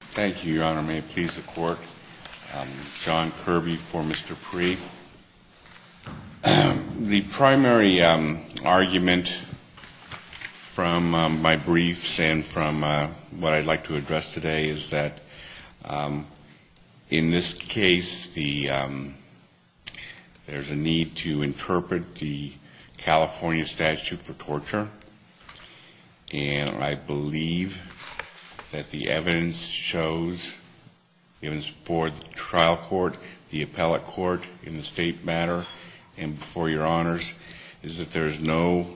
Thank you, Your Honor. May it please the Court? John Kirby for Mr. Pree. The primary argument from my briefs and from what I'd like to address today is that, in this case, there's a need to interpret the California statute for torture, and I believe that the evidence should be for the trial court, the appellate court, in the state matter, and before Your Honors, is that there's no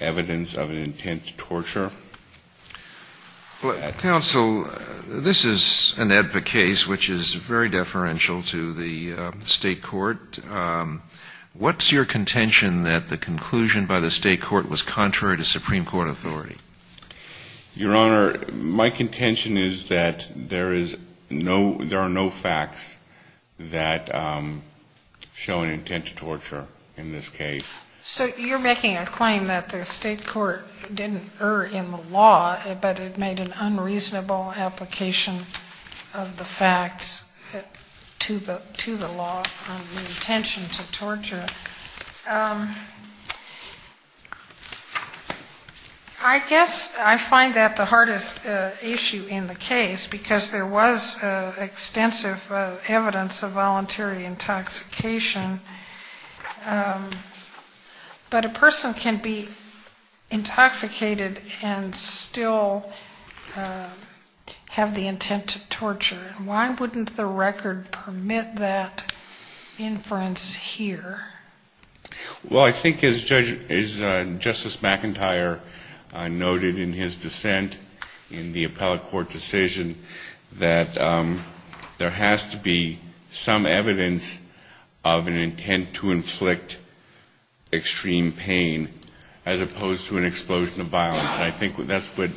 evidence of an intent to torture. Counsel, this is an AEDPA case which is very deferential to the state court. What's your contention that the conclusion by the state court was contrary to Supreme Court authority? Your Honor, my contention is that there are no facts that show an intent to torture in this case. So you're making a claim that the state court didn't err in the law, but it made an unreasonable application of the facts to the law on the intention to torture. I guess I find that the hardest issue in the case, because there was extensive evidence of voluntary intoxication, but a person can be intoxicated and still have the intent to torture. Why wouldn't the record permit that inference here? Well, I think, as Justice McIntyre noted in his dissent in the appellate court decision, that there has to be some evidence of an intent to inflict extreme pain, as opposed to an explosion of violence. And I think that's what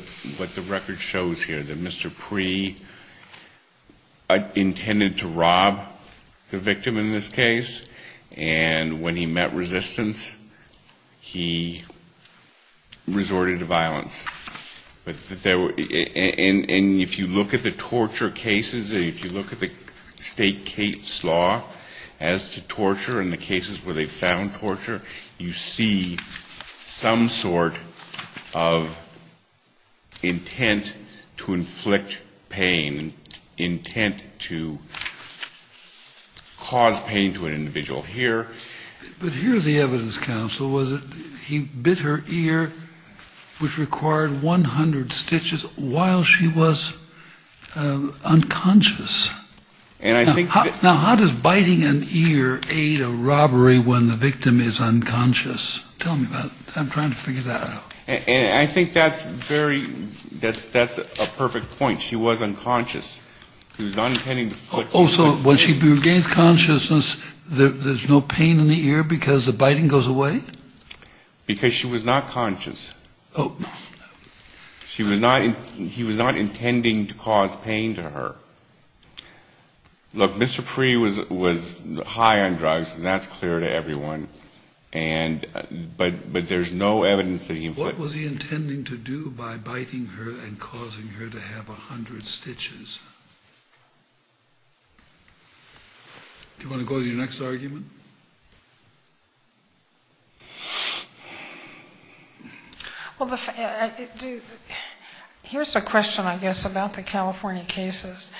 the record shows here, that Mr. Pree intended to rob the victim in this case, and when he met resistance, he resorted to violence. And if you look at the torture cases, if you look at the state case law as to torture and the cases where they found torture, you see some sort of an intent to torture. You see some sort of intent to inflict pain, intent to cause pain to an individual here. But here's the evidence, counsel, was that he bit her ear, which required 100 stitches, while she was unconscious. Now, how does biting an ear aid a robbery when the victim is unconscious? Tell me about it. I'm trying to figure that out. And I think that's a perfect point. She was unconscious. He was not intending to inflict pain. Oh, so when she regains consciousness, there's no pain in the ear because the biting goes away? Because she was not conscious. He was not intending to cause pain to her. Look, Mr. Pree was high on drugs, and that's clear to everyone. But there's no evidence that he inflicted pain. What was he intending to do by biting her and causing her to have 100 stitches? Do you want to go to your next argument? Well, here's a question, I guess, about the California cases.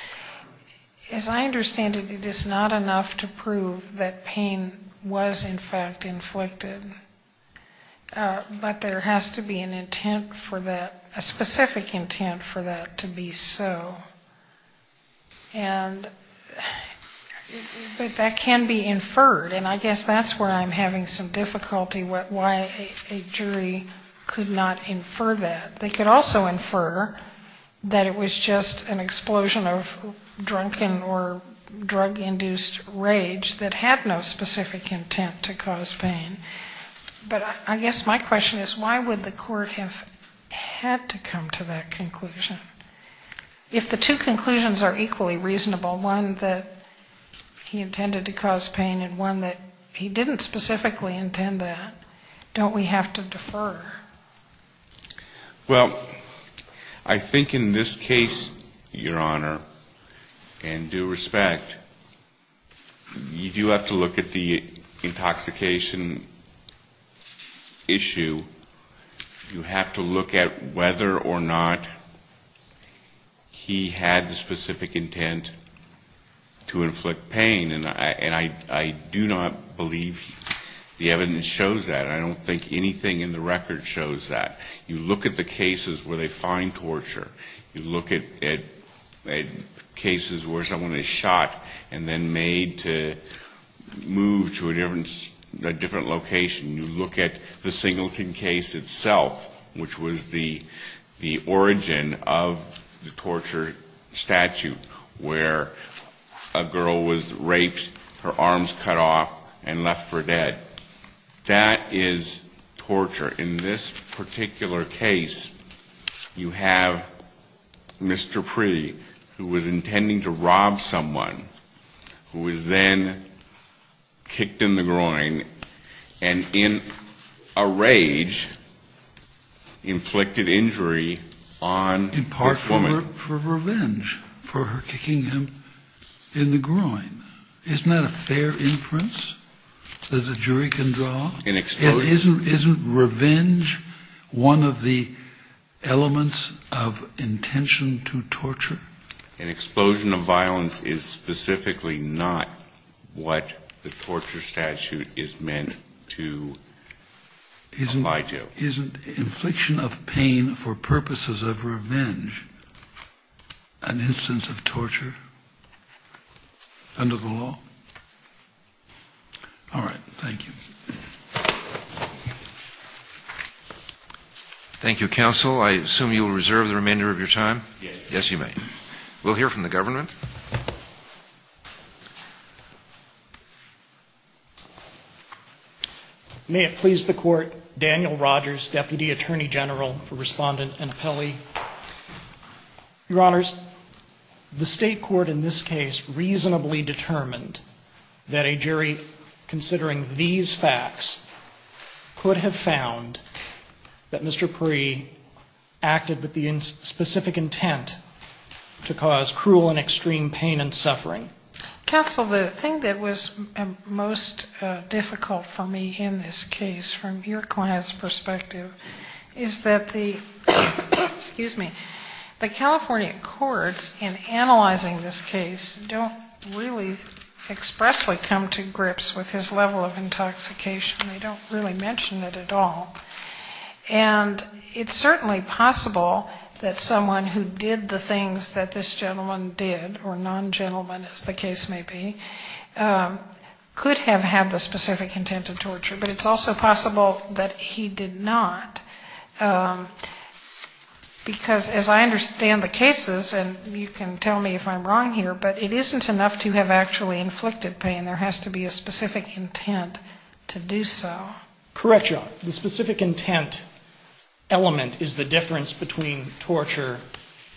As I understand it, it is not enough to prove that pain was, in fact, inflicted. But there has to be an intent for that, a specific intent for that to be so. But that can be inferred, and I guess that's where I'm having some difficulty, why a jury could not infer that. They could also infer that it was just an explosion of drunken or drug-induced rage that had no specific intent to cause pain. But I guess my question is, why would the court have had to come to that conclusion? If the two conclusions are equally reasonable, one that he intended to cause pain and one that he didn't specifically intend that, don't we have to defer? Well, I think in this case, Your Honor, in due respect, you do have to look at the intoxication issue. You have to look at whether or not he had the specific intent to inflict pain. And I do not believe the evidence shows that. I don't think anything in the record shows that. You look at the cases where they find torture. You look at cases where someone is shot and then made to move to a different location. You look at the Singleton case itself, which was the origin of the torture statute, where a girl was raped, her arms cut off and left for dead. That is torture. In this particular case, you have Mr. Pree, who was intending to rob someone, who was then kicked in the groin and in a rage inflicted injury on the woman. In part for revenge, for her kicking him in the groin. Isn't that a fair inference that a jury can draw? Isn't revenge one of the elements of intention to torture? An explosion of violence is specifically not what the torture statute is meant to apply to. Isn't infliction of pain for purposes of revenge an instance of torture? All right. Thank you. Thank you, counsel. I assume you will reserve the remainder of your time. Yes, you may. We'll hear from the government. May it please the Court, Daniel Rogers, Deputy Attorney General for Respondent and Appellee. Your Honors, the State court in this case reasonably determined that a jury considering these facts could have found that Mr. Pree acted with the specific intent to kill someone. Counsel, the thing that was most difficult for me in this case, from your client's perspective, is that the California courts in analyzing this case don't really expressly come to grips with his level of intoxication. They don't really mention it at all. And it's certainly possible that someone who did the things that this gentleman did, or non-gentleman as the case may be, could have had the specific intent to torture. But it's also possible that he did not. Because as I understand the cases, and you can tell me if I'm wrong here, but it isn't enough to have actually inflicted pain. There has to be a specific intent to do so. Correct, Your Honor. The specific intent element is the difference between torture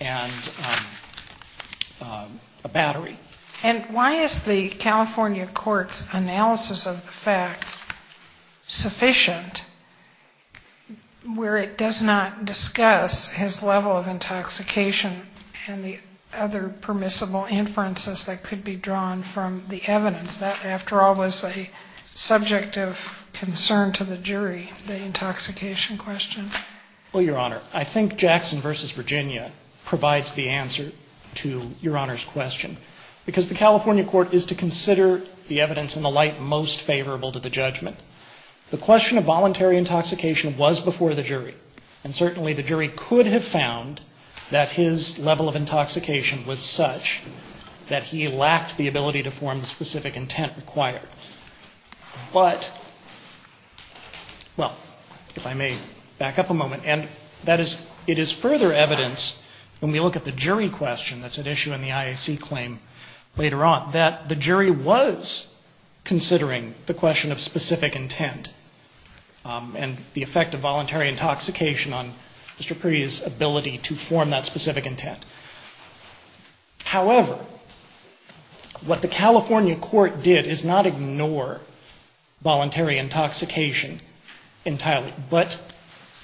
and a battery. And why is the California court's analysis of the facts sufficient where it does not discuss his level of intoxication and the other permissible inferences that could be drawn from the evidence that we have? Because that, after all, was a subject of concern to the jury, the intoxication question. Well, Your Honor, I think Jackson v. Virginia provides the answer to Your Honor's question. Because the California court is to consider the evidence in the light most favorable to the judgment. The question of voluntary intoxication was before the jury. And certainly the jury could have found that his level of intoxication was such that he lacked the ability to form the specific intent. But, well, if I may back up a moment. And that is, it is further evidence when we look at the jury question that's at issue in the IAC claim later on, that the jury was considering the question of specific intent. And the effect of voluntary intoxication on Mr. Perry's ability to form that specific intent. However, what the California court did is not ignore voluntary intoxication entirely, but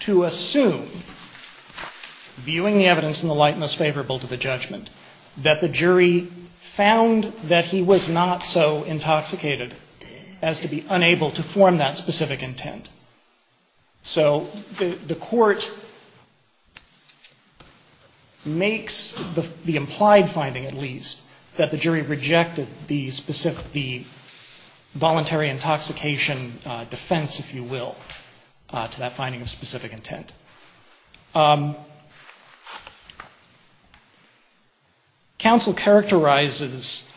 to assume, viewing the evidence in the light most favorable to the judgment, that the jury found that he was not so intoxicated as to be unable to form that specific intent. So the court makes the implied finding, at least, that the jury rejected the specific, the voluntary intoxication defense, if you will, to that finding of specific intent. Counsel characterizes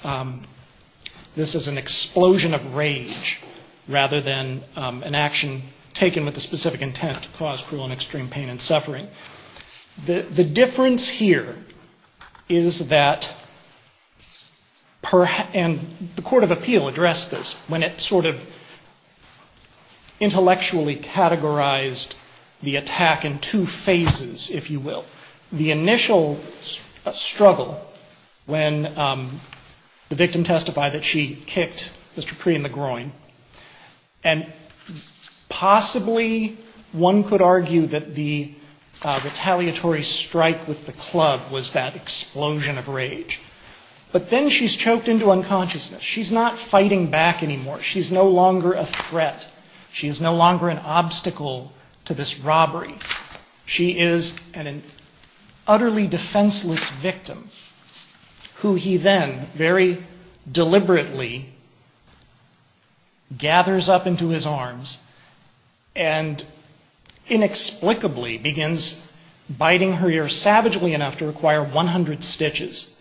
this as an explosion of rage, rather than an action of anger. And, again, this is a case that's been taken with the specific intent to cause cruel and extreme pain and suffering. The difference here is that, and the court of appeal addressed this, when it sort of intellectually categorized the attack in two phases, if you will. The initial struggle, when the victim testified that she kicked Mr. Perry in the groin, and possibly, possibly, the victim was not able to form that specific intent, possibly one could argue that the retaliatory strike with the club was that explosion of rage. But then she's choked into unconsciousness. She's not fighting back anymore. She's no longer a threat. She is no longer an obstacle to this robbery. She is an utterly defenseless victim, who he then, very deliberately, gathers up into his arms, and inexplicably begins biting her ear savagely enough to require 100 stitches.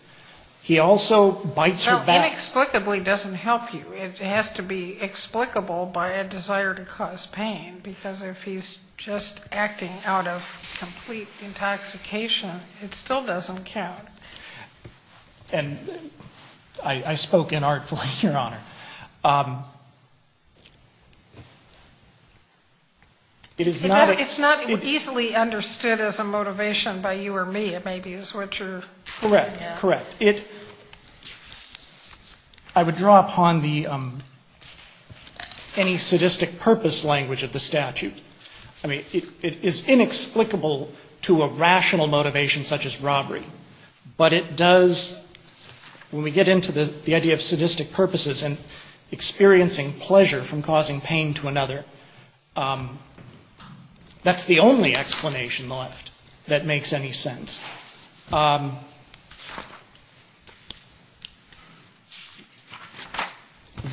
He also bites her back. Well, inexplicably doesn't help you. It has to be explicable by a desire to cause pain, because if he's just acting out of complete intoxication, it still doesn't count. And I spoke inartfully, Your Honor. It's not easily understood as a motivation by you or me. It may be as what you're saying. Correct. Correct. I would draw upon any sadistic purpose language of the statute. I mean, it is inexplicable to a rational motivation such as robbery, but it does, when we get into the idea of sadistic purposes and experiencing pleasure from causing pain to another, that's the only explanation left that makes any sense.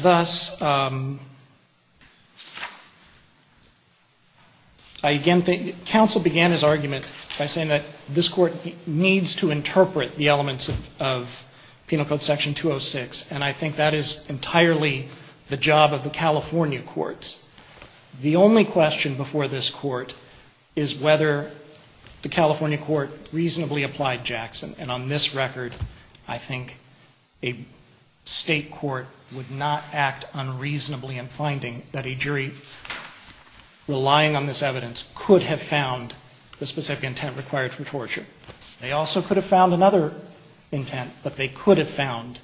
Thus, I again think counsel began his argument by saying that this Court needs to interpret the elements of Penal Code Section 206. And I think that is entirely the job of the California courts. The only question before this Court is whether the California court reasonably applied Jackson. And on this record, I think a State court would not act unreasonably in finding that a jury relying on this evidence could have found another intent, but they could have found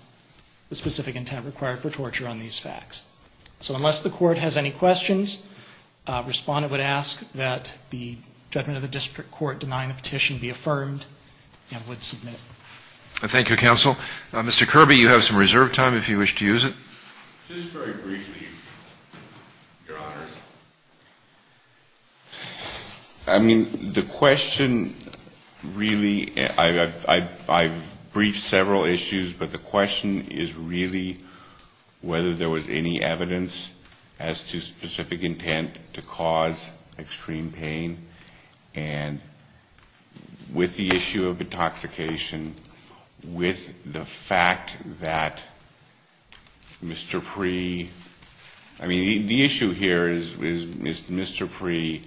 the specific intent required for torture on these facts. So unless the Court has any questions, Respondent would ask that the judgment of the district court denying the petition be affirmed and would submit. Thank you, counsel. Mr. Kirby, you have some reserve time if you wish to use it. Just very briefly, Your Honors. I mean, the question really, I've briefed several issues, but the question is really whether there was any evidence as to specific intent to cause extreme pain, and with the issue of intoxication, with the fact that Mr. Pree, I mean, the issue here is, is Mr. Pree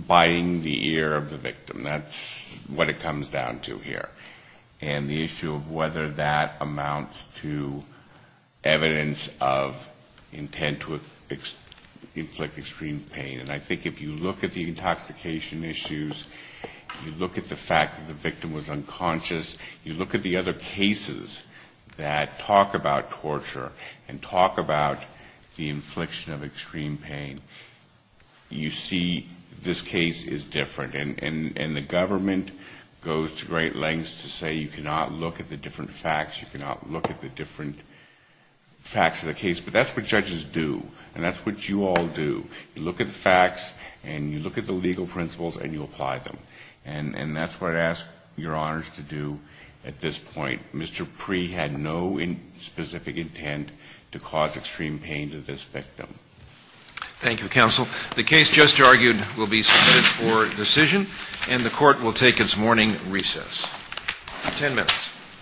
biting the ear of the victim? That's what it comes down to here. And the issue of whether that amounts to evidence of intent to inflict extreme pain. And I think if you look at the intoxication issues, you look at the fact that the victim was unconscious, you look at the other cases that talk about torture and talk about the infliction of extreme pain, you see this case is different. And the government goes to great lengths to say you cannot look at the different facts, you cannot look at the different facts of the case, but that's what judges do, and that's what you all do. You look at the facts and you look at the legal principles and you apply them. And that's what I ask your honors to do at this point. Mr. Pree had no specific intent to cause extreme pain to this victim. Thank you, counsel. The case just argued will be submitted for decision, and the court will take its morning recess. Ten minutes.